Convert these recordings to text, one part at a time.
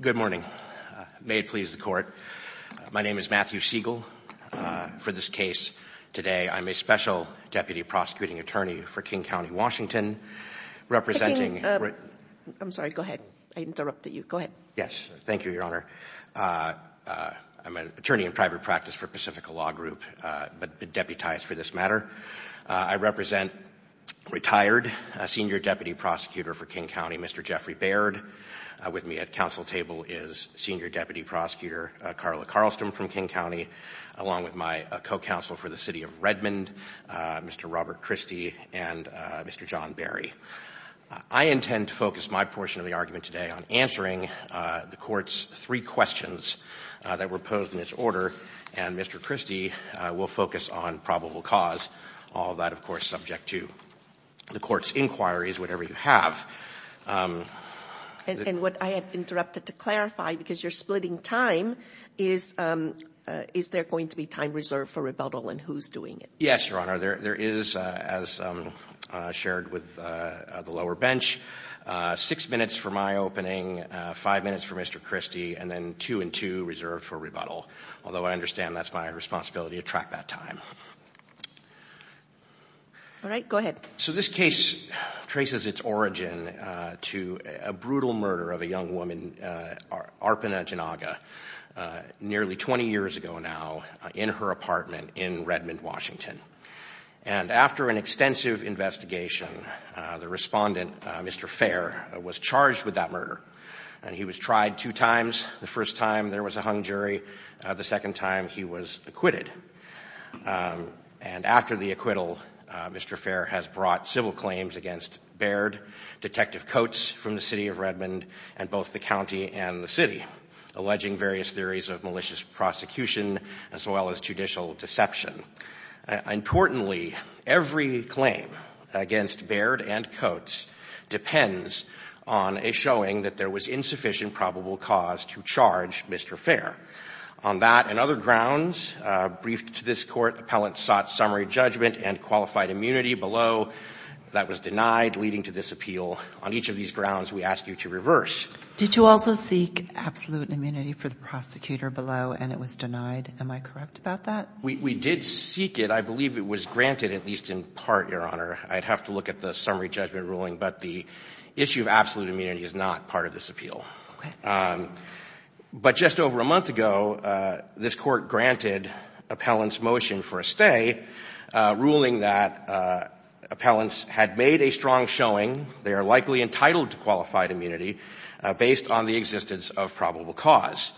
Good morning. May it please the Court. My name is Matthew Siegel. For this case today, I'm a Special Deputy Prosecuting Attorney for King County, Washington, representing I'm sorry. Go ahead. I interrupted you. Go ahead. Yes. Thank you, Your Honor. I'm an attorney in private practice for Pacifica Law Group, but deputized for this matter. I represent retired Senior Deputy Prosecutor for King County, Mr. Jeffrey Baird. With me at council table is Senior Deputy Prosecutor Carla Carlston from King County, along with my co-counsel for the City of Redmond, Mr. Robert Christie, and Mr. John Berry. I intend to focus my portion of the argument today on answering the Court's three questions that were posed in this order, and Mr. Christie will focus on probable cause, all of that, of course, subject to the Court's inquiries, whatever you have. And what I have interrupted to clarify, because you're splitting time, is there going to be time reserved for rebuttal and who's doing it? Yes, Your Honor. There is, as shared with the lower bench, six minutes for my opening, five minutes for Mr. Christie, and then two and two reserved for rebuttal, although I understand that's my responsibility to track that time. All right. Go ahead. So this case traces its origin to a brutal murder of a young woman, Arpana Janaga, nearly 20 years ago now, in her apartment in Redmond, Washington. And after an extensive investigation, the respondent, Mr. Fair, was charged with that murder, and he was tried two times. The first time there was a hung jury, the second time he was acquitted. And after the acquittal, Mr. Fair has brought civil claims against Baird, Detective various theories of malicious prosecution, as well as judicial deception. Importantly, every claim against Baird and Coates depends on a showing that there was insufficient probable cause to charge Mr. Fair. On that and other grounds, briefed to this Court, appellants sought summary judgment and qualified immunity. Below, that was denied, leading to this appeal. On each of these grounds, we ask you to reverse. Did you also seek absolute immunity for the prosecutor below, and it was denied? Am I correct about that? We did seek it. I believe it was granted, at least in part, Your Honor. I'd have to look at the summary judgment ruling, but the issue of absolute immunity is not part of this appeal. Okay. But just over a month ago, this Court granted appellants motion for a stay, ruling that appellants had made a strong showing they are likely entitled to qualified immunity based on the existence of probable cause.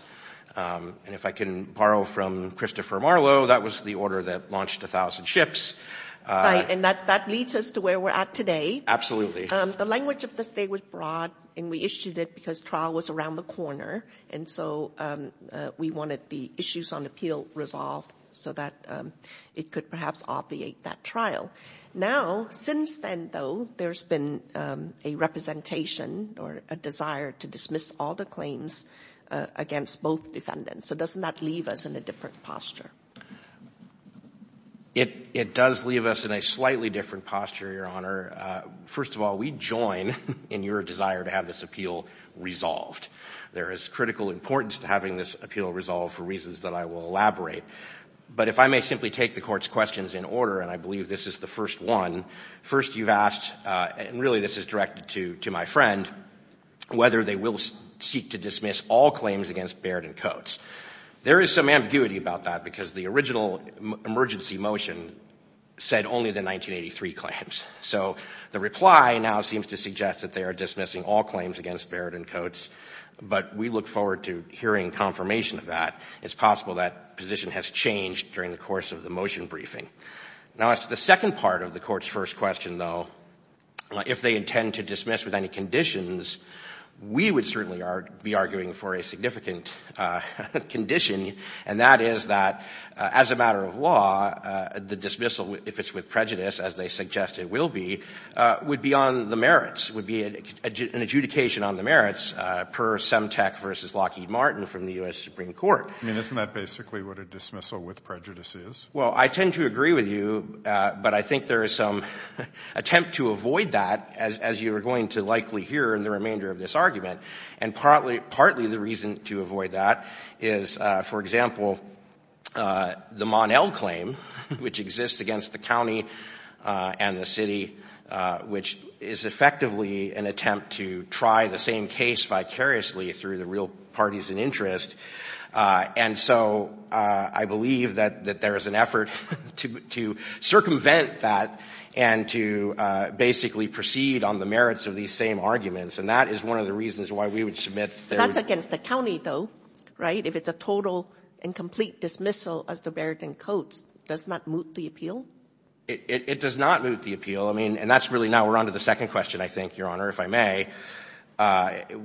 And if I can borrow from Christopher Marlowe, that was the order that launched 1,000 ships. Right. And that leads us to where we're at today. Absolutely. The language of the stay was broad, and we issued it because trial was around the corner, and so we wanted the issues on appeal resolved so that it could perhaps obviate that trial. Now, since then, though, there's been a representation or a desire to dismiss all the claims against both defendants. So doesn't that leave us in a different posture? It does leave us in a slightly different posture, Your Honor. First of all, we join in your desire to have this appeal resolved. There is critical importance to having this appeal resolved for reasons that I will elaborate. But if I may simply take the Court's questions in order, and I believe this is the first one. First, you've asked, and really this is directed to my friend, whether they will seek to dismiss all claims against Barrett and Coates. There is some ambiguity about that because the original emergency motion said only the 1983 claims. So the reply now seems to suggest that they are dismissing all claims against Barrett and Coates, but we look forward to hearing confirmation of that. It's possible that position has changed during the course of the motion briefing. Now, as to the second part of the Court's first question, though, if they intend to dismiss with any conditions, we would certainly be arguing for a significant condition, and that is that, as a matter of law, the dismissal, if it's with prejudice, as they suggest it will be, would be on the merits, would be an adjudication on the merits per Semtec v. Lockheed Martin from the U.S. Supreme Court. I mean, isn't that basically what a dismissal with prejudice is? Well, I tend to agree with you, but I think there is some attempt to avoid that, as you are going to likely hear in the remainder of this argument. And partly the reason to avoid that is, for example, the Mon-El claim, which exists against the county and the city, which is effectively an attempt to try the same case vicariously through the real parties in interest. And so I believe that there is an effort to circumvent that and to basically proceed on the merits of these same arguments. And that is one of the reasons why we would submit that there is no merits. That's against the county, though. Right? If it's a total and complete dismissal as the Barrington Codes, does that moot the It does not moot the appeal. I mean, and that's really now we're on to the second question, I think, Your Honor, if I may.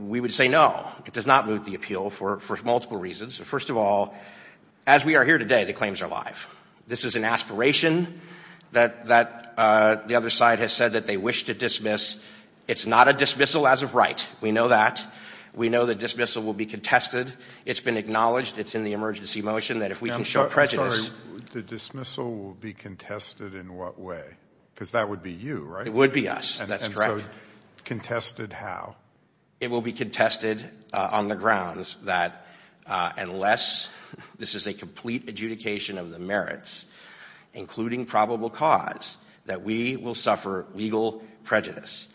We would say no. It does not moot the appeal for multiple reasons. First of all, as we are here today, the claims are live. This is an aspiration that the other side has said that they wish to dismiss. It's not a dismissal as of right. We know that. We know the dismissal will be contested. It's been acknowledged. It's in the emergency motion that if we can show prejudice I'm sorry. The dismissal will be contested in what way? Because that would be you, right? It would be us. That's correct. And so contested how? It will be contested on the grounds that unless this is a complete adjudication of the merits, including probable cause, that we will suffer legal prejudice.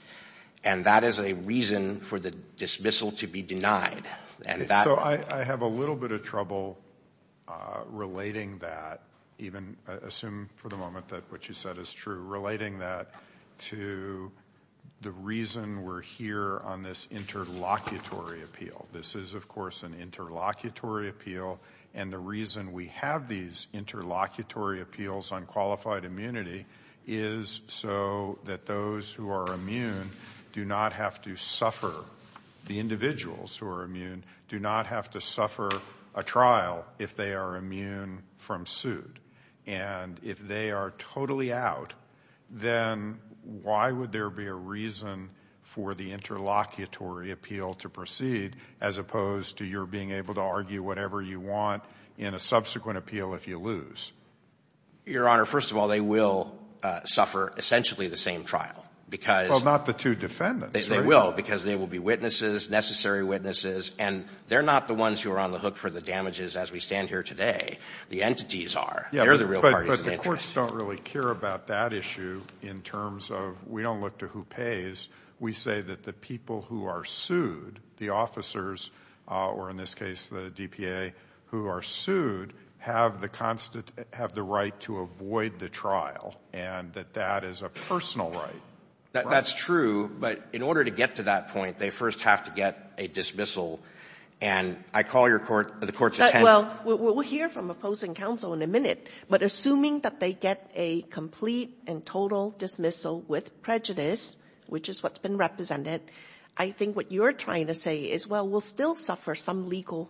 And that is a reason for the dismissal to be denied. So I have a little bit of trouble relating that, even assume for the moment that what you said is true, relating that to the reason we're here on this interlocutory appeal. This is, of course, an interlocutory appeal, and the reason we have these interlocutory appeals on qualified immunity is so that those who are immune do not have to suffer. The individuals who are immune do not have to suffer a trial if they are immune from suit. And if they are totally out, then why would there be a reason for the interlocutory appeal to proceed as opposed to your being able to argue whatever you want in a subsequent appeal if you lose? Your Honor, first of all, they will suffer essentially the same trial, because Well, not the two defendants, right? They will, because they will be witnesses, necessary witnesses, and they're not the ones who are on the hook for the damages as we stand here today. The entities are. They're the real parties of the interest. But the courts don't really care about that issue in terms of we don't look to who We say that the people who are sued, the officers, or in this case the DPA who are sued, have the right to avoid the trial, and that that is a personal right. That's true, but in order to get to that point, they first have to get a dismissal, and I call your court, the court's attorney Well, we'll hear from opposing counsel in a minute, but assuming that they get a complete and total dismissal with prejudice, which is what's been represented, I think what you're trying to say is, well, we'll still suffer some legal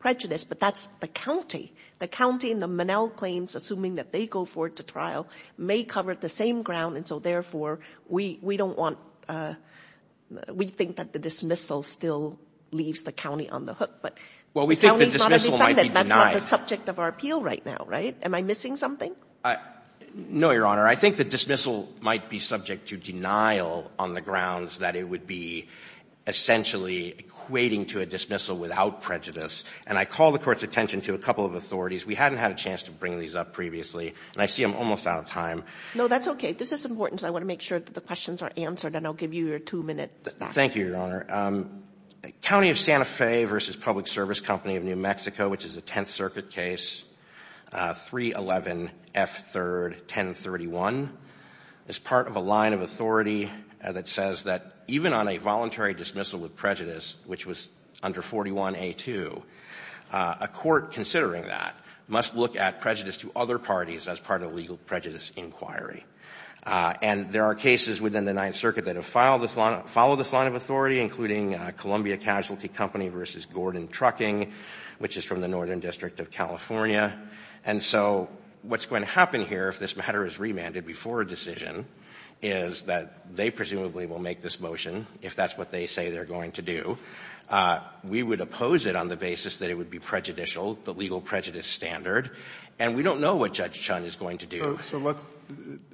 prejudice, but that's the county. The county in the Monell claims, assuming that they go forward to trial, may cover the same ground, and so, therefore, we don't want We think that the dismissal still leaves the county on the hook, but Well, we think the dismissal might be denied. That's not the subject of our appeal right now, right? Am I missing something? No, Your Honor. I think the dismissal might be subject to denial on the grounds that it would be essentially equating to a dismissal without prejudice, and I call the court's attention to a couple of authorities. We hadn't had a chance to bring these up previously, and I see I'm almost out of time. No, that's okay. This is important, so I want to make sure that the questions are answered, and I'll give you your two-minute back. Thank you, Your Honor. County of Santa Fe v. Public Service Company of New Mexico, which is a Tenth Circuit case, 311F3-1031, is part of a line of authority that says that even on a voluntary dismissal with prejudice, which was under 41A2, a court considering that must look at prejudice to other parties as part of the legal prejudice inquiry. And there are cases within the Ninth Circuit that have followed this line of authority, including Columbia Casualty Company v. Gordon Trucking, which is from the Northern District of California. And so what's going to happen here, if this matter is remanded before a decision, is that they presumably will make this motion, if that's what they say they're going to do. We would oppose it on the basis that it would be prejudicial, the legal prejudice standard, and we don't know what Judge Chun is going to do.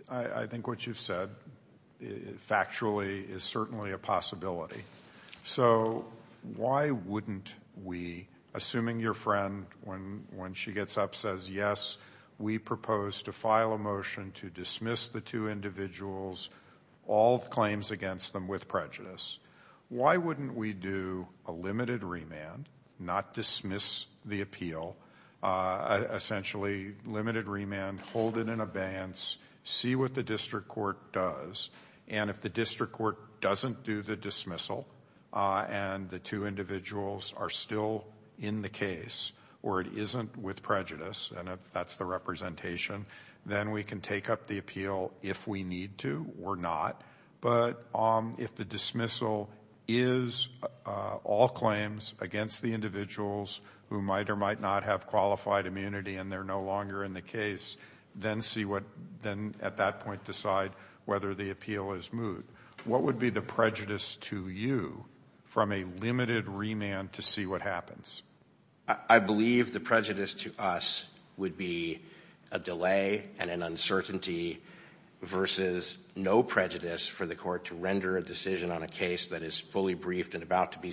I think what you've said, factually, is certainly a possibility. So why wouldn't we, assuming your friend, when she gets up, says, yes, we propose to file a motion to dismiss the two individuals, all claims against them with prejudice, why wouldn't we do a limited remand, not dismiss the appeal, essentially limited remand, hold it in abeyance, see what the district court does, and if the district court doesn't do the dismissal and the two individuals are still in the case or it isn't with prejudice, and if that's the representation, then we can take up the appeal if we need to or not. But if the dismissal is all claims against the individuals who might or might not have qualified immunity and they're no longer in the case, then at that point decide whether the appeal is moot. What would be the prejudice to you from a limited remand to see what happens? I believe the prejudice to us would be a delay and an uncertainty versus no prejudice for the court to render a decision on a case that is fully briefed and about to be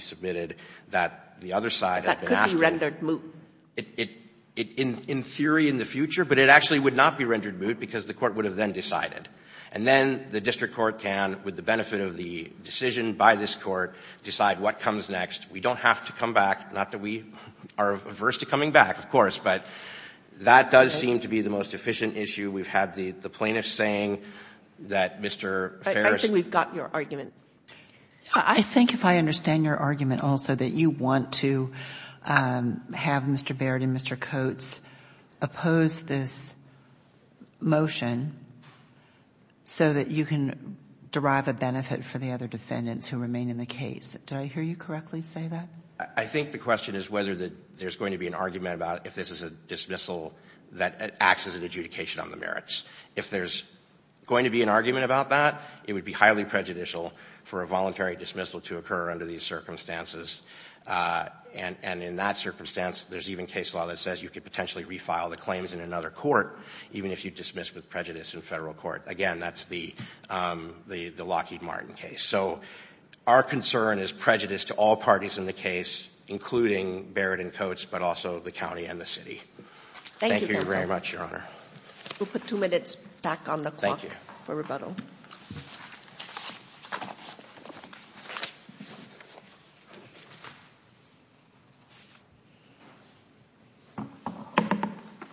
in theory in the future, but it actually would not be rendered moot because the court would have then decided. And then the district court can, with the benefit of the decision by this Court, decide what comes next. We don't have to come back. Not that we are averse to coming back, of course, but that does seem to be the most efficient issue. We've had the plaintiff saying that Mr. Ferris ---- I think we've got your argument. I think if I understand your argument also that you want to have Mr. Barrett and Mr. Coates oppose this motion so that you can derive a benefit for the other defendants who remain in the case. Did I hear you correctly say that? I think the question is whether there's going to be an argument about if this is a dismissal that acts as an adjudication on the merits. If there's going to be an argument about that, it would be highly prejudicial for a voluntary dismissal to occur under these circumstances. And in that circumstance, there's even case law that says you could potentially refile the claims in another court, even if you dismiss with prejudice in Federal Court. Again, that's the Lockheed Martin case. So our concern is prejudice to all parties in the case, including Barrett and Coates, but also the county and the city. Thank you very much, Your Honor. We'll put two minutes back on the clock for rebuttal. Thank you.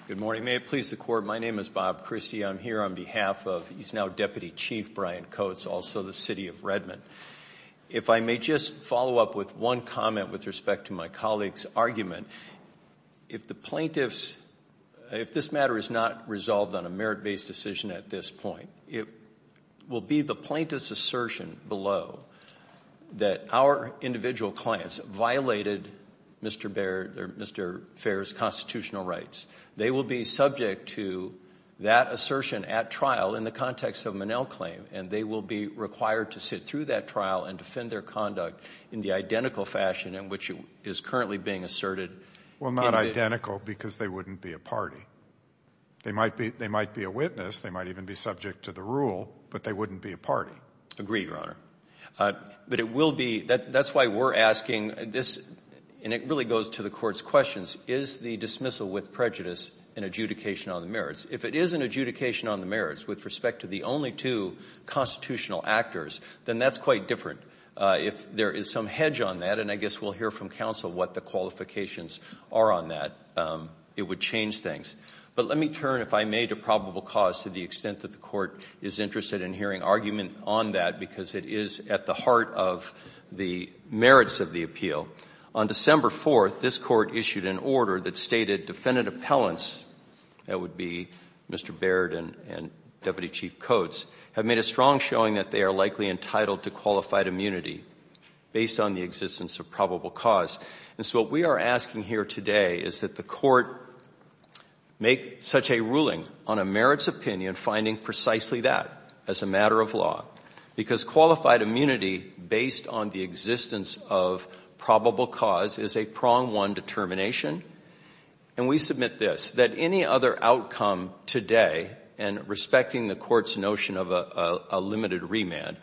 Good morning. May it please the Court, my name is Bob Christie. I'm here on behalf of now Deputy Chief Brian Coates, also the city of Redmond. If I may just follow up with one comment with respect to my colleague's argument. If the plaintiff's, if this matter is not resolved on a merit-based decision at this point, it will be the plaintiff's assertion below that our individual clients violated Mr. Barrett or Mr. Fair's constitutional rights. They will be subject to that assertion at trial in the context of Monell claim, and they will be required to sit through that trial and defend their conduct in the identical fashion in which it is currently being asserted. Well, not identical because they wouldn't be a party. They might be a witness. They might even be subject to the rule, but they wouldn't be a party. Agreed, Your Honor. But it will be, that's why we're asking this, and it really goes to the court's questions, is the dismissal with prejudice an adjudication on the merits? If it is an adjudication on the merits with respect to the only two constitutional actors, then that's quite different. If there is some hedge on that, and I guess we'll hear from counsel what the qualifications are on that, it would change things. But let me turn, if I may, to probable cause to the extent that the court is interested in hearing argument on that because it is at the heart of the merits of the appeal. On December 4th, this court issued an order that stated defendant appellants, that would be Mr. Baird and Deputy Chief Coates, have made a strong showing that they are likely entitled to qualified immunity based on the existence of probable cause. And so what we are asking here today is that the court make such a ruling on a merits opinion finding precisely that as a matter of law because qualified immunity based on the existence of probable cause is a prong one determination and we submit this, that any other outcome today, and respecting the court's notion of a limited remand,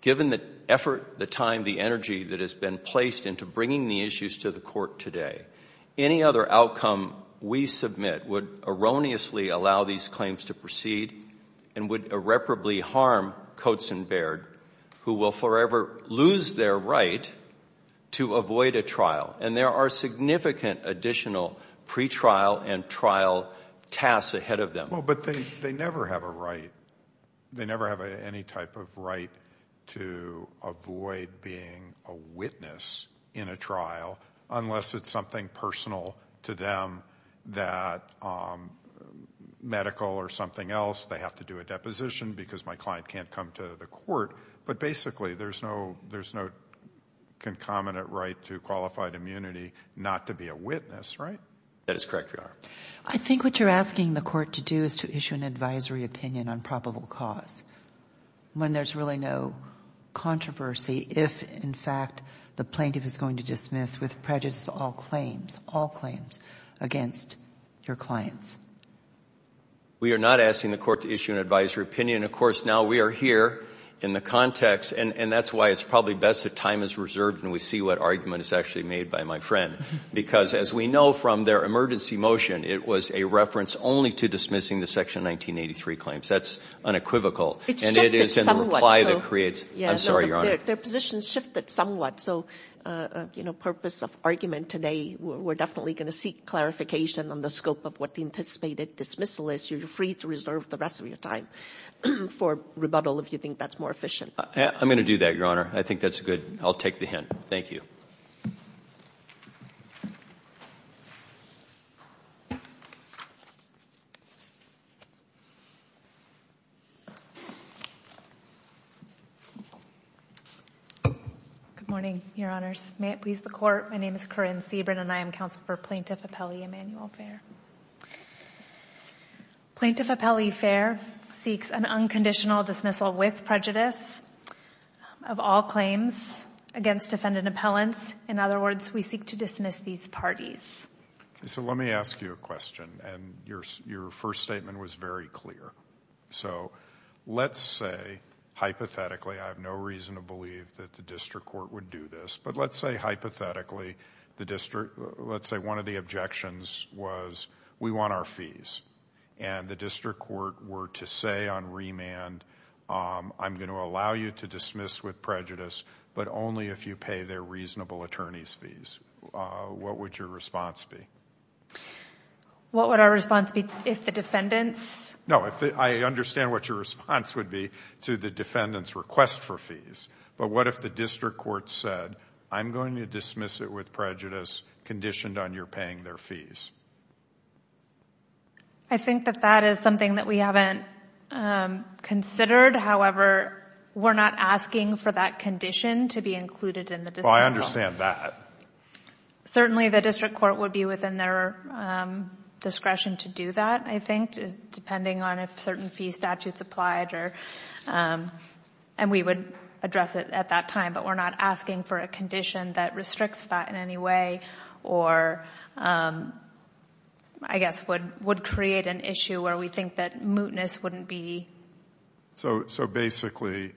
given the effort, the time, the energy that has been placed into bringing the issues to the court today, any other outcome we submit would erroneously allow these claims to proceed and would irreparably harm Coates and Baird who will forever lose their right to avoid a trial. And there are significant additional pretrial and trial tasks ahead of them. Well, but they never have a right. They never have any type of right to avoid being a witness in a trial unless it's something personal to them that medical or something else, they have to do a deposition because my client can't come to the court. But basically there's no, there's no concomitant right to qualified immunity, not to be a witness. Right? That is correct. I think what you're asking the court to do is to issue an advisory opinion on probable cause when there's really no controversy. If in fact the plaintiff is going to dismiss with prejudice, all claims, all claims against your clients. We are not asking the court to issue an advisory opinion. And of course now we are here in the context and, and that's why it's probably best that time is reserved and we see what argument is actually made by my friend. Because as we know from their emergency motion, it was a reference only to dismissing the section 1983 claims. That's unequivocal. And it is in the reply that creates, I'm sorry, Your Honor. Their positions shifted somewhat. So, you know, purpose of argument today, we're definitely going to seek clarification on the scope of what the anticipated dismissal is. So you're free to reserve the rest of your time for rebuttal if you think that's more efficient. I'm going to do that, Your Honor. I think that's good. I'll take the hint. Thank you. Good morning, Your Honors. May it please the court. My name is Corinne Sebrin and I am counsel for Plaintiff Appellee Emanuel Fair. Plaintiff Appellee Fair seeks an unconditional dismissal with prejudice of all claims against defendant appellants. In other words, we seek to dismiss these parties. So let me ask you a question. And your first statement was very clear. So let's say, hypothetically, I have no reason to believe that the district court would do this. But let's say, hypothetically, the district, let's say one of the objections was we want our fees. And the district court were to say on remand, I'm going to allow you to dismiss with prejudice, but only if you pay their reasonable attorney's fees. What would your response be? What would our response be if the defendants? No, I understand what your response would be to the defendant's request for I'm going to dismiss it with prejudice conditioned on your paying their fees. I think that that is something that we haven't considered. However, we're not asking for that condition to be included in the dismissal. I understand that. Certainly the district court would be within their discretion to do that, I think, depending on if certain fee statutes applied or, and we would address it at that time. But we're not asking for a condition that restricts that in any way or I guess would create an issue where we think that mootness wouldn't be. So basically,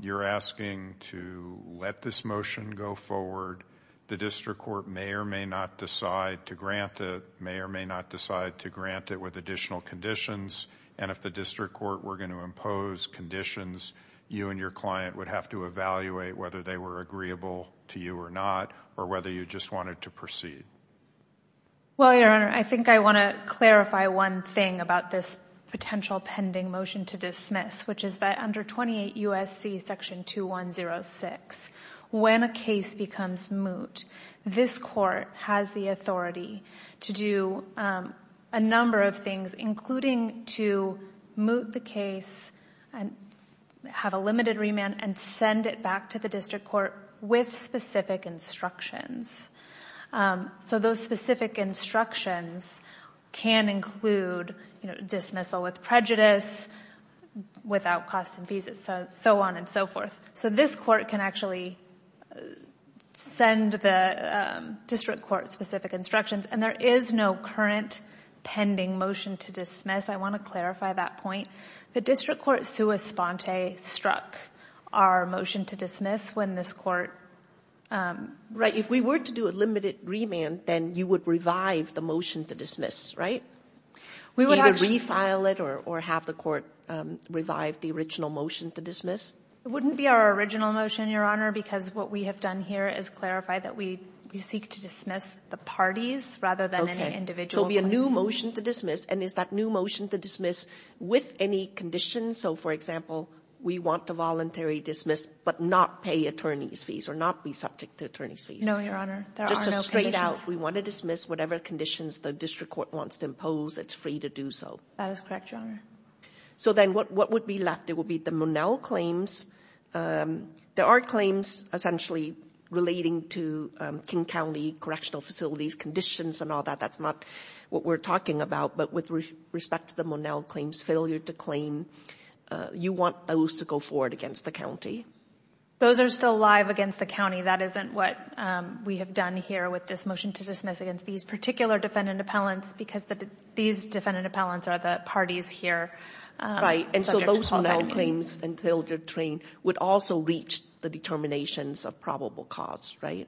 you're asking to let this motion go forward. The district court may or may not decide to grant it, may or may not decide to grant it with additional conditions. And if the district court were going to impose conditions, you and your client would have to evaluate whether they were agreeable to you or not or whether you just wanted to proceed. Well, Your Honor, I think I want to clarify one thing about this potential pending motion to dismiss, which is that under 28 U.S.C. Section 2106, when a case becomes moot, this court has the authority to do a number of things, including to moot the case and have a limited remand and send it back to the district court with specific instructions. So those specific instructions can include dismissal with prejudice, without costs and fees, and so on and so forth. So this court can actually send the district court specific instructions, and there is no current pending motion to dismiss. I want to clarify that point. The district court sua sponte struck our motion to dismiss when this court ---- Right. If we were to do a limited remand, then you would revive the motion to dismiss, right? We would actually ---- Either refile it or have the court revive the original motion to dismiss? It wouldn't be our original motion, Your Honor, because what we have done here is clarify that we seek to dismiss the parties rather than any individual parties. So it would be a new motion to dismiss, and is that new motion to dismiss with any conditions? So, for example, we want to voluntary dismiss but not pay attorney's fees or not be subject to attorney's fees? No, Your Honor. There are no conditions. Just a straight out, we want to dismiss whatever conditions the district court wants to impose. It's free to do so. That is correct, Your Honor. So then what would be left? It would be the Monell claims. There are claims essentially relating to King County correctional facilities, conditions and all that. That's not what we're talking about. But with respect to the Monell claims, failure to claim, you want those to go forward against the county? Those are still live against the county. That isn't what we have done here with this motion to dismiss against these particular defendant appellants because these defendant appellants are the parties here. Right, and so those Monell claims until they're trained would also reach the determinations of probable cause, right?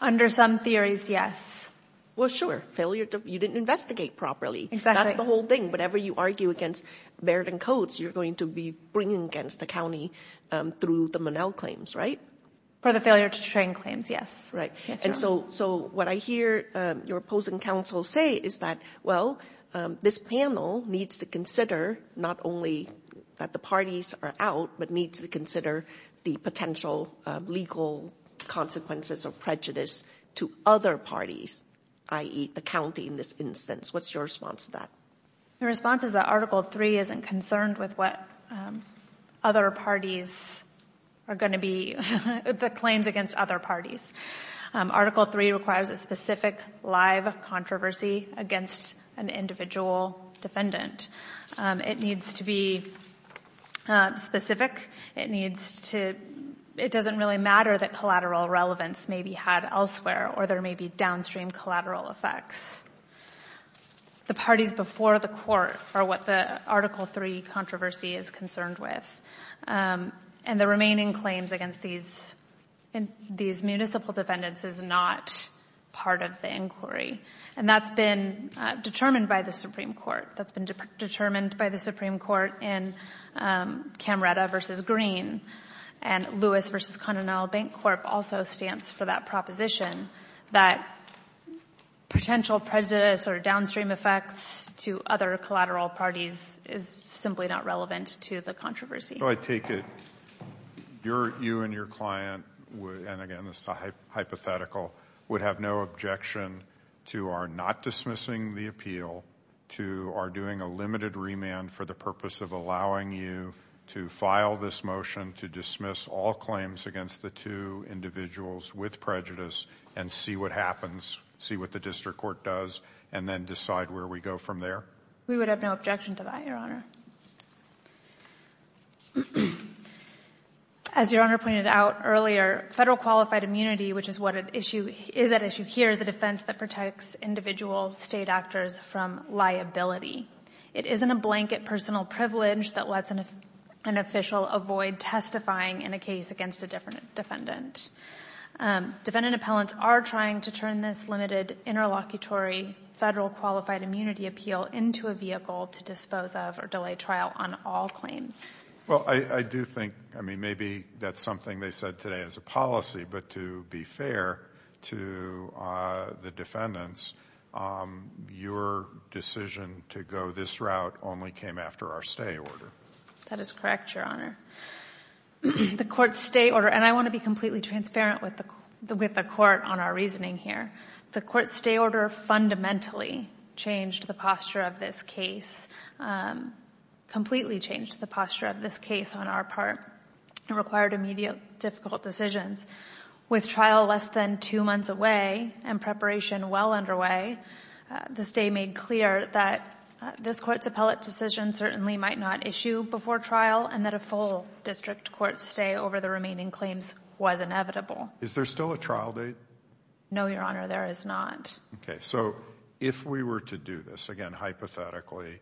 Under some theories, yes. Well, sure. You didn't investigate properly. Exactly. That's the whole thing. Whatever you argue against Barrett and Coates, you're going to be bringing against the county through the Monell claims, right? For the failure to train claims, yes. Right. And so what I hear your opposing counsel say is that, well, this panel needs to consider not only that the parties are out, but needs to consider the potential legal consequences of prejudice to other parties, i.e., the county in this instance. What's your response to that? My response is that Article 3 isn't concerned with what other parties are going to be, the claims against other parties. Article 3 requires a specific live controversy against an individual defendant. It needs to be specific. It doesn't really matter that collateral relevance may be had elsewhere or there may be downstream collateral effects. The parties before the court are what the Article 3 controversy is concerned with, and the remaining claims against these municipal defendants is not part of the inquiry, and that's been determined by the Supreme Court. That's been determined by the Supreme Court in Camreta v. Green, and Lewis v. Connell Bank Corp. also stands for that proposition that potential prejudice or downstream effects to other collateral parties is simply not relevant to the controversy. I take it you and your client, and again this is hypothetical, would have no objection to our not dismissing the appeal, to our doing a limited remand for the purpose of allowing you to file this motion to dismiss all claims against the two individuals with prejudice and see what happens, see what the district court does, and then decide where we go from there? We would have no objection to that, Your Honor. As Your Honor pointed out earlier, federal qualified immunity, which is what is at issue here, is a defense that protects individual state actors from liability. It isn't a blanket personal privilege that lets an official avoid testifying in a case against a defendant. Defendant appellants are trying to turn this limited interlocutory federal qualified immunity appeal into a vehicle to dispose of or delay trial on all claims. Well, I do think maybe that's something they said today as a policy, but to be fair to the defendants, your decision to go this route only came after our stay order. That is correct, Your Honor. The court's stay order, and I want to be completely transparent with the court on our reasoning here, the court's stay order fundamentally changed the posture of this case, completely changed the posture of this case on our part. It required immediate, difficult decisions. With trial less than two months away and preparation well underway, the stay made clear that this court's appellate decision certainly might not issue before trial and that a full district court stay over the remaining claims was inevitable. Is there still a trial date? No, Your Honor, there is not. Okay. So if we were to do this, again, hypothetically,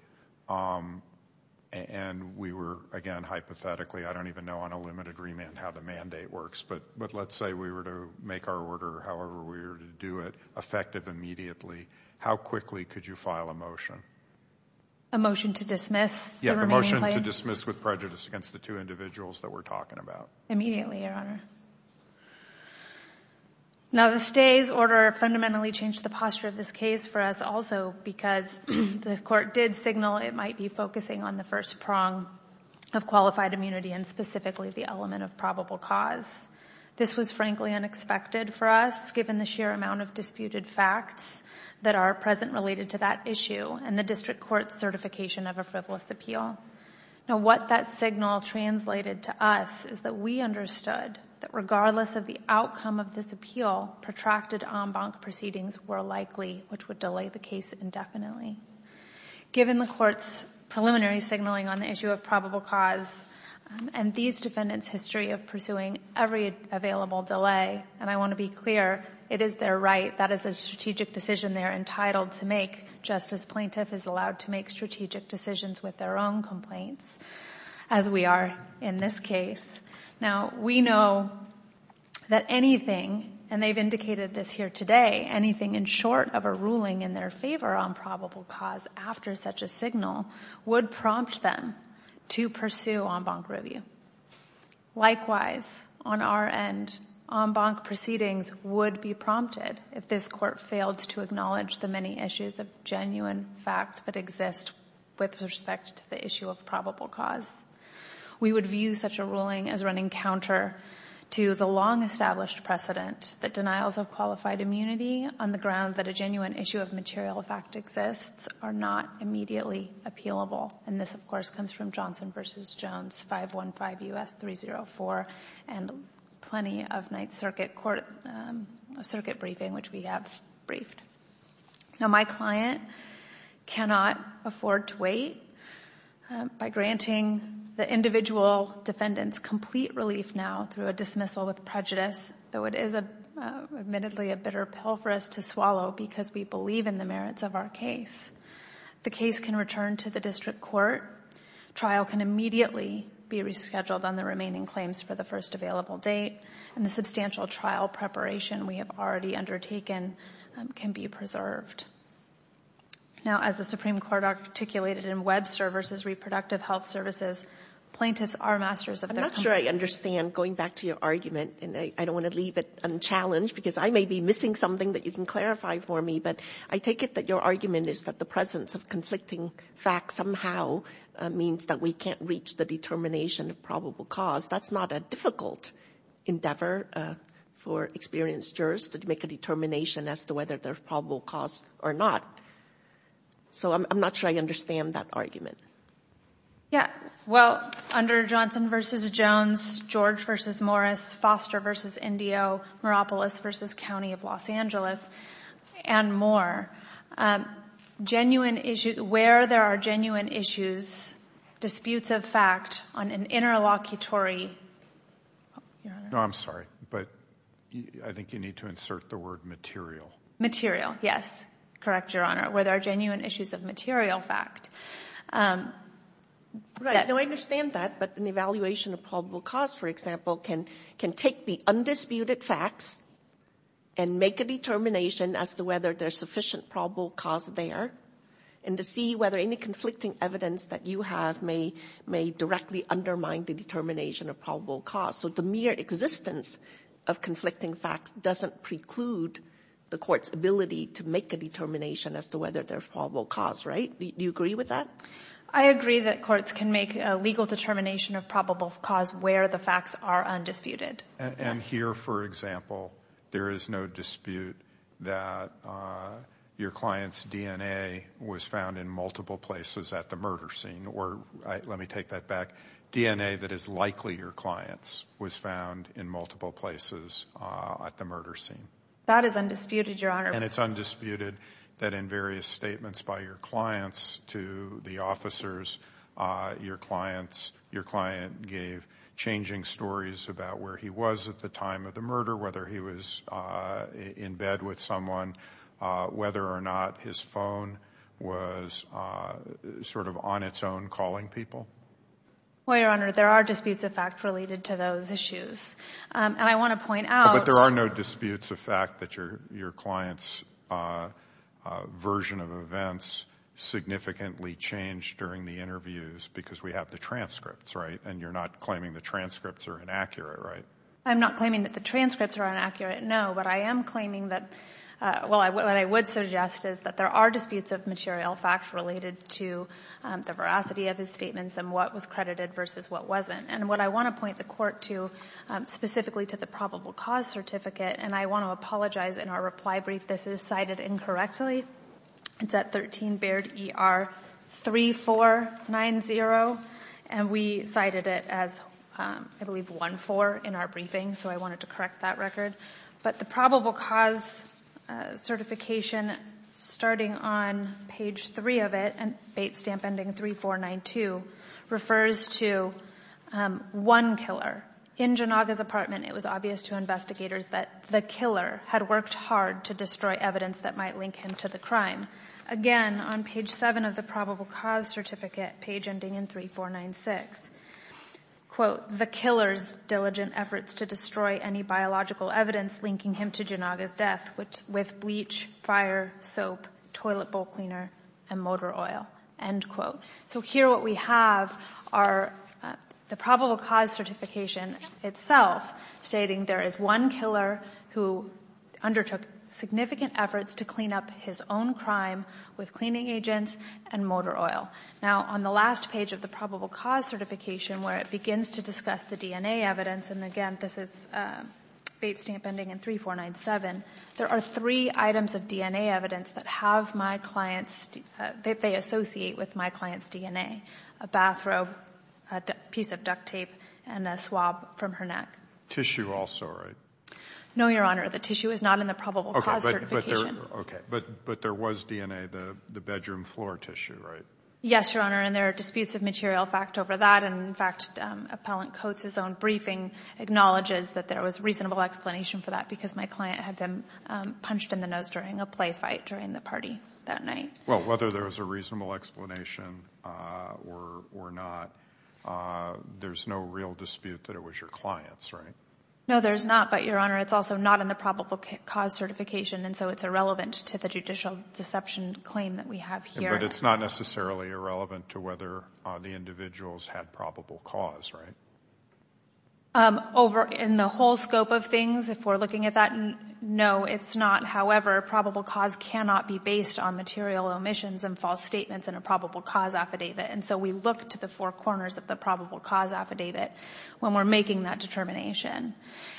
and we were, again, hypothetically, I don't even know on a limited remand how the mandate works, but let's say we were to make our order however we were to do it effective immediately, how quickly could you file a motion? A motion to dismiss the remaining claims? A motion to dismiss with prejudice against the two individuals that we're talking about. Immediately, Your Honor. Now the stay's order fundamentally changed the posture of this case for us also because the court did signal it might be focusing on the first prong of qualified immunity and specifically the element of probable cause. This was frankly unexpected for us given the sheer amount of disputed facts that are present related to that issue and the district court's certification of a frivolous appeal. Now what that signal translated to us is that we understood that regardless of the outcome of this appeal, protracted en banc proceedings were likely, which would delay the case indefinitely. Given the court's preliminary signaling on the issue of probable cause and these defendants' history of pursuing every available delay, and I want to be clear, it is their right, that is a strategic decision they're entitled to make just as plaintiff is allowed to make strategic decisions with their own complaints, as we are in this case. Now we know that anything, and they've indicated this here today, anything in short of a ruling in their favor on probable cause after such a signal would prompt them to pursue en banc review. Likewise, on our end, en banc proceedings would be prompted if this court failed to acknowledge the many issues of genuine fact that exist with respect to the issue of probable cause. We would view such a ruling as running counter to the long-established precedent that denials of qualified immunity on the grounds that a genuine issue of material fact exists are not immediately appealable. And this, of course, comes from Johnson v. Jones 515 U.S. 304 and plenty of Ninth Circuit court, circuit briefing, which we have briefed. Now my client cannot afford to wait by granting the individual defendants complete relief now through a dismissal with prejudice, though it is admittedly a bitter pill for us to swallow because we believe in the merits of our case. The case can return to the district court. Trial can immediately be rescheduled on the remaining claims for the first available date. And the substantial trial preparation we have already undertaken can be preserved. Now as the Supreme Court articulated in Web Services, Reproductive Health Services, plaintiffs are masters of their complaint. I'm not sure I understand, going back to your argument, and I don't want to leave it unchallenged because I may be missing something that you can clarify for me, but I take it that your argument is that the presence of conflicting facts somehow means that we can't reach the determination of probable cause. That's not a difficult endeavor for experienced jurors to make a determination as to whether there's probable cause or not. So I'm not sure I understand that argument. Yeah, well, under Johnson v. Jones, George v. Morris, Foster v. Indio, Maropolis v. County of Los Angeles, and more, where there are genuine issues, disputes of fact on an interlocutory... No, I'm sorry, but I think you need to insert the word material. Material, yes. Correct, Your Honor. Where there are genuine issues of material fact... Right, no, I understand that, but an evaluation of probable cause, for example, can take the undisputed facts and make a determination as to whether there's sufficient probable cause there and to see whether any conflicting evidence that you have may directly undermine the determination of probable cause. So the mere existence of conflicting facts doesn't preclude the court's ability to make a determination as to whether there's probable cause, right? Do you agree with that? I agree that courts can make a legal determination of probable cause where the facts are undisputed. And here, for example, there is no dispute that your client's DNA was found in multiple places at the murder scene, or let me take that back, DNA that is likely your client's was found in multiple places at the murder scene. That is undisputed, Your Honor. And it's undisputed that in various statements by your clients to the officers, your client gave changing stories about where he was at the time of the murder, whether he was in bed with someone, whether or not his phone was sort of on its own calling people. Well, Your Honor, there are disputes of fact related to those issues. And I want to point out— But there are no disputes of fact that your client's version of events significantly changed during the interviews because we have the transcripts, right? And you're not claiming the transcripts are inaccurate, right? I'm not claiming that the transcripts are inaccurate, no, but I am claiming that—well, what I would suggest is that there are disputes of material facts related to the veracity of his statements and what was credited versus what wasn't. And what I want to point the Court to, specifically to the probable cause certificate, and I want to apologize in our reply brief, this is cited incorrectly. It's at 13 Baird ER 3490, and we cited it as, I believe, 14 in our briefing, so I wanted to correct that record. But the probable cause certification, starting on page 3 of it, and bait stamp ending 3492, refers to one killer. In Janaga's apartment, it was obvious to investigators that the killer had worked hard to destroy evidence that might link him to the crime. Again, on page 7 of the probable cause certificate, page ending in 3496, quote, the killer's diligent efforts to destroy any biological evidence linking him to Janaga's death with bleach, fire, soap, toilet bowl cleaner, and motor oil, end quote. So here what we have are the probable cause certification itself stating there is one killer who undertook significant efforts to clean up his own crime with cleaning agents and motor oil. Now, on the last page of the probable cause certification, where it begins to discuss the DNA evidence, and again, this is bait stamp ending in 3497, there are three items of DNA evidence that have my client's, that they associate with my client's DNA, a bathrobe, a piece of duct tape, and a swab from her neck. The tissue also, right? No, Your Honor. The tissue is not in the probable cause certification. Okay. But there was DNA, the bedroom floor tissue, right? Yes, Your Honor, and there are disputes of material fact over that, and in fact Appellant Coates' own briefing acknowledges that there was reasonable explanation for that because my client had been punched in the nose during a play fight during the party that night. Well, whether there was a reasonable explanation or not, there's no real dispute that it was your client's, right? No, there's not, but Your Honor, it's also not in the probable cause certification, and so it's irrelevant to the judicial deception claim that we have here. But it's not necessarily irrelevant to whether the individuals had probable cause, right? In the whole scope of things, if we're looking at that, no, it's not. However, probable cause cannot be based on material omissions and false statements in a probable cause affidavit, and so we look to the four corners of the probable cause affidavit when we're making that determination.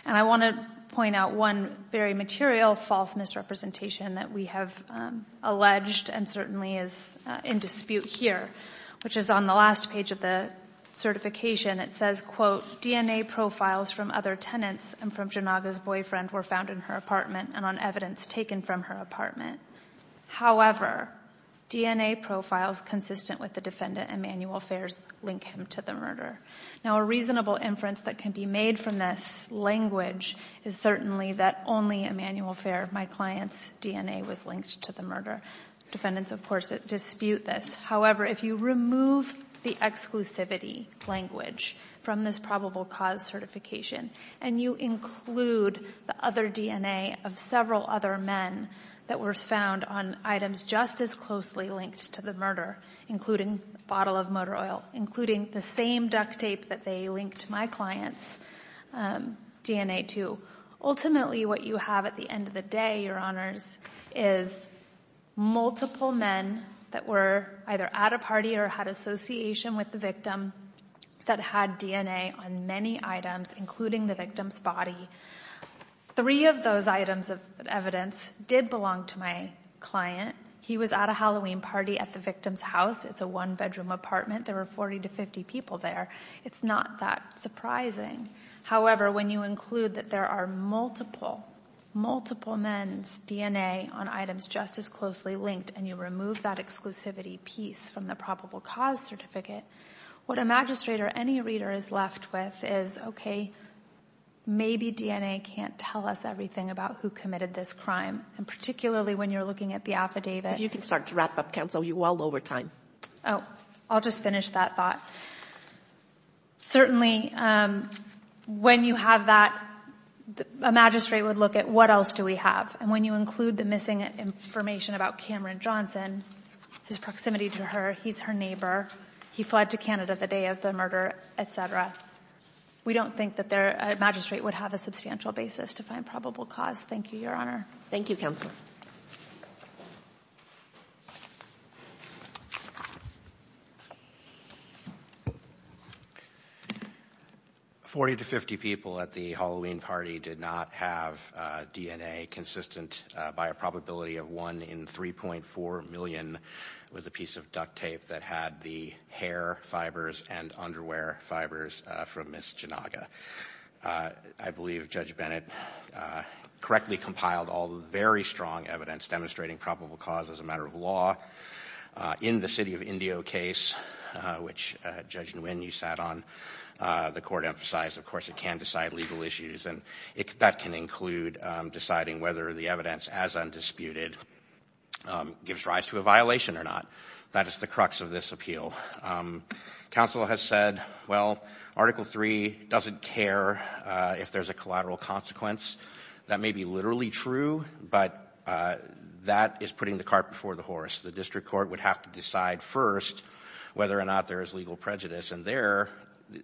And I want to point out one very material false misrepresentation that we have alleged and certainly is in dispute here, which is on the last page of the certification. It says, quote, DNA profiles from other tenants and from Janaga's boyfriend were found in her apartment and on evidence taken from her apartment. However, DNA profiles consistent with the defendant and manual affairs link him to the murder. Now, a reasonable inference that can be made from this language is certainly that only a manual affair. My client's DNA was linked to the murder. Defendants, of course, dispute this. However, if you remove the exclusivity language from this probable cause certification and you include the other DNA of several other men that were found on items just as closely linked to the murder, including the bottle of motor oil, including the same duct tape that they linked my client's DNA to, ultimately what you have at the end of the day, Your Honors, is multiple men that were either at a party or had association with the victim that had DNA on many items, including the victim's body. Three of those items of evidence did belong to my client. He was at a Halloween party at the victim's house. It's a one-bedroom apartment. There were 40 to 50 people there. It's not that surprising. However, when you include that there are multiple, multiple men's DNA on items just as closely linked and you remove that exclusivity piece from the probable cause certificate, what a magistrate or any reader is left with is, okay, maybe DNA can't tell us everything about who committed this crime. And particularly when you're looking at the affidavit. If you can start to wrap up, counsel, we're well over time. Oh, I'll just finish that thought. Certainly when you have that, a magistrate would look at what else do we have. And when you include the missing information about Cameron Johnson, his proximity to her, he's her neighbor, he fled to Canada the day of the murder, et cetera, we don't think that a magistrate would have a substantial basis to find probable cause. Thank you, Your Honor. Thank you, counsel. Forty to 50 people at the Halloween party did not have DNA consistent by a probability of one in 3.4 million with a piece of duct tape that had the hair fibers and underwear fibers from Ms. Janaga. I believe Judge Bennett correctly compiled all the very strong evidence demonstrating probable cause as a matter of law. In the city of Indio case, which Judge Nguyen you sat on, the court emphasized, of course, it can decide legal issues and that can include deciding whether the evidence as undisputed gives rise to a violation or not. That is the crux of this appeal. Counsel has said, well, Article 3 doesn't care if there's a collateral consequence. That may be literally true, but that is putting the cart before the horse. The district court would have to decide first whether or not there is legal prejudice. And there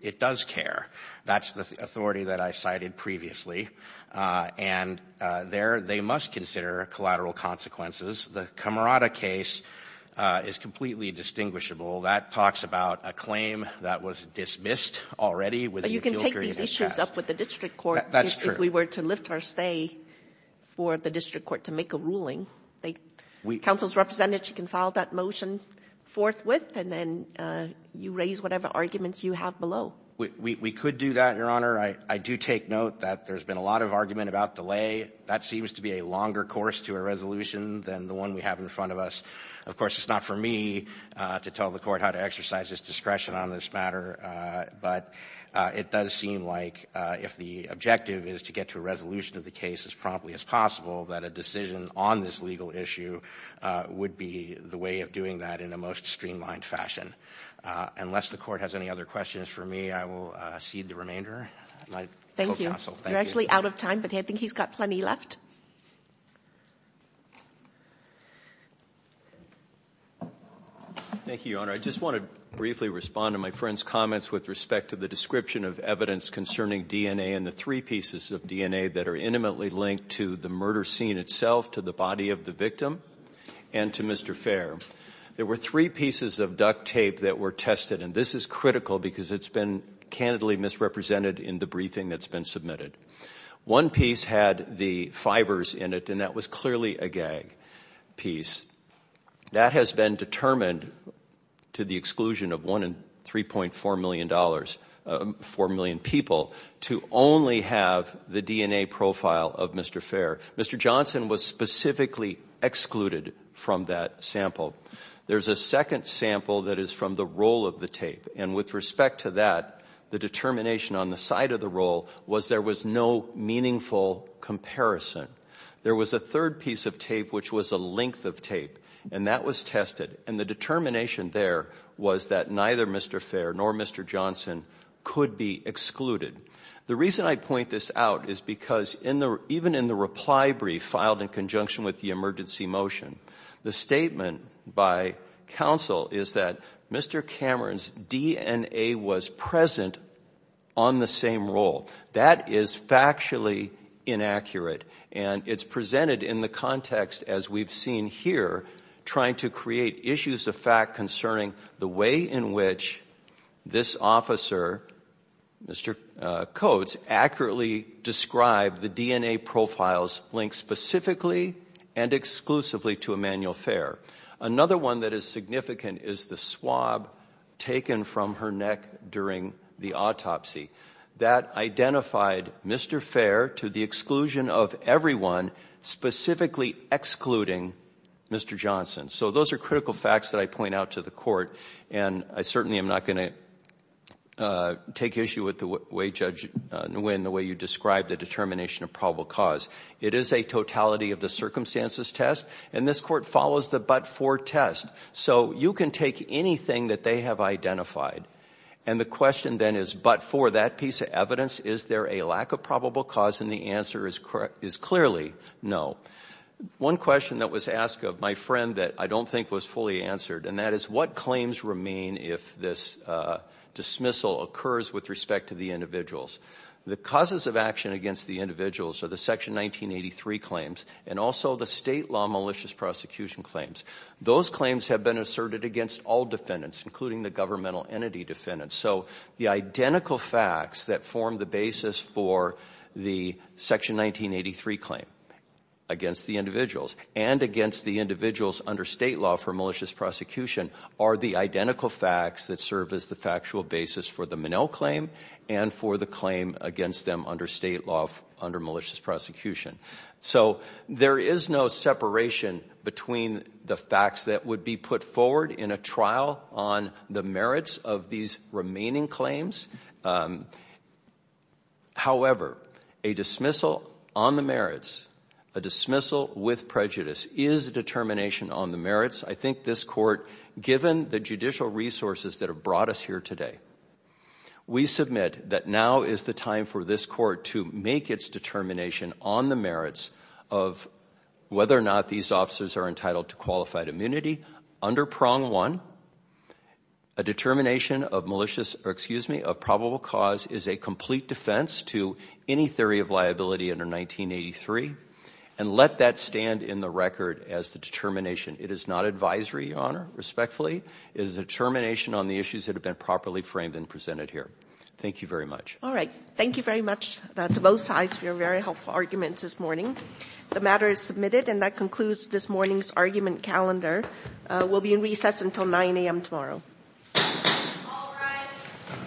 it does care. That's the authority that I cited previously. And there they must consider collateral consequences. The Camerata case is completely distinguishable. That talks about a claim that was dismissed already within the appeal period. But you can take these issues up with the district court. That's true. If we were to lift our stay for the district court to make a ruling. Counsel's representative can file that motion forthwith, and then you raise whatever arguments you have below. We could do that, Your Honor. I do take note that there's been a lot of argument about delay. That seems to be a longer course to a resolution than the one we have in front of us. Of course, it's not for me to tell the court how to exercise its discretion on this matter. But it does seem like if the objective is to get to a resolution of the case as promptly as possible, that a decision on this legal issue would be the way of doing that in a most streamlined fashion. Unless the court has any other questions for me, I will cede the remainder. Thank you. You're actually out of time, but I think he's got plenty left. Thank you, Your Honor. I just want to briefly respond to my friend's comments with respect to the description of evidence concerning DNA and the three pieces of DNA that are intimately linked to the murder scene itself, to the body of the victim, and to Mr. Fair. There were three pieces of duct tape that were tested, and this is critical because it's been candidly misrepresented in the briefing that's been submitted. One piece had the fibers in it, and that was clearly a gag piece. That has been determined to the exclusion of one in 3.4 million people to only have the DNA profile of Mr. Fair. Mr. Johnson was specifically excluded from that sample. There's a second sample that is from the roll of the tape, and with respect to that, the determination on the side of the roll was there was no meaningful comparison. There was a third piece of tape which was a length of tape, and that was tested, and the determination there was that neither Mr. Fair nor Mr. Johnson could be excluded. The reason I point this out is because even in the reply brief filed in conjunction with the emergency motion, the statement by counsel is that Mr. Cameron's DNA was present on the same roll. That is factually inaccurate, and it's presented in the context, as we've seen here, trying to create issues of fact concerning the way in which this officer, Mr. Coates, accurately described the DNA profiles linked specifically and exclusively to Emanuel Fair. Another one that is significant is the swab taken from her neck during the autopsy. That identified Mr. Fair to the exclusion of everyone, specifically excluding Mr. Johnson. So those are critical facts that I point out to the court, and I certainly am not going to take issue with the way, Judge Nguyen, the way you described the determination of probable cause. It is a totality of the circumstances test, and this court follows the but-for test. So you can take anything that they have identified, and the question then is, but for that piece of evidence, is there a lack of probable cause, and the answer is clearly no. One question that was asked of my friend that I don't think was fully answered, and that is, what claims remain if this dismissal occurs with respect to the individuals? The causes of action against the individuals are the Section 1983 claims and also the state law malicious prosecution claims. Those claims have been asserted against all defendants, including the governmental entity defendants. So the identical facts that form the basis for the Section 1983 claim against the individuals and against the individuals under state law for malicious prosecution are the identical facts that serve as the factual basis for the Minnell claim and for the claim against them under state law under malicious prosecution. So there is no separation between the facts that would be put forward in a trial on the merits of these remaining claims. However, a dismissal on the merits, a dismissal with prejudice, is a determination on the merits. I think this court, given the judicial resources that have brought us here today, we submit that now is the time for this court to make its determination on the merits of whether or not these officers are entitled to qualified immunity. Under prong one, a determination of probable cause is a complete defense to any theory of liability under 1983, and let that stand in the record as the determination. It is not advisory, Your Honor, respectfully. It is a determination on the issues that have been properly framed and presented here. Thank you very much. All right. Thank you very much to both sides for your very helpful arguments this morning. The matter is submitted, and that concludes this morning's argument calendar. We'll be in recess until 9 a.m. tomorrow. All rise.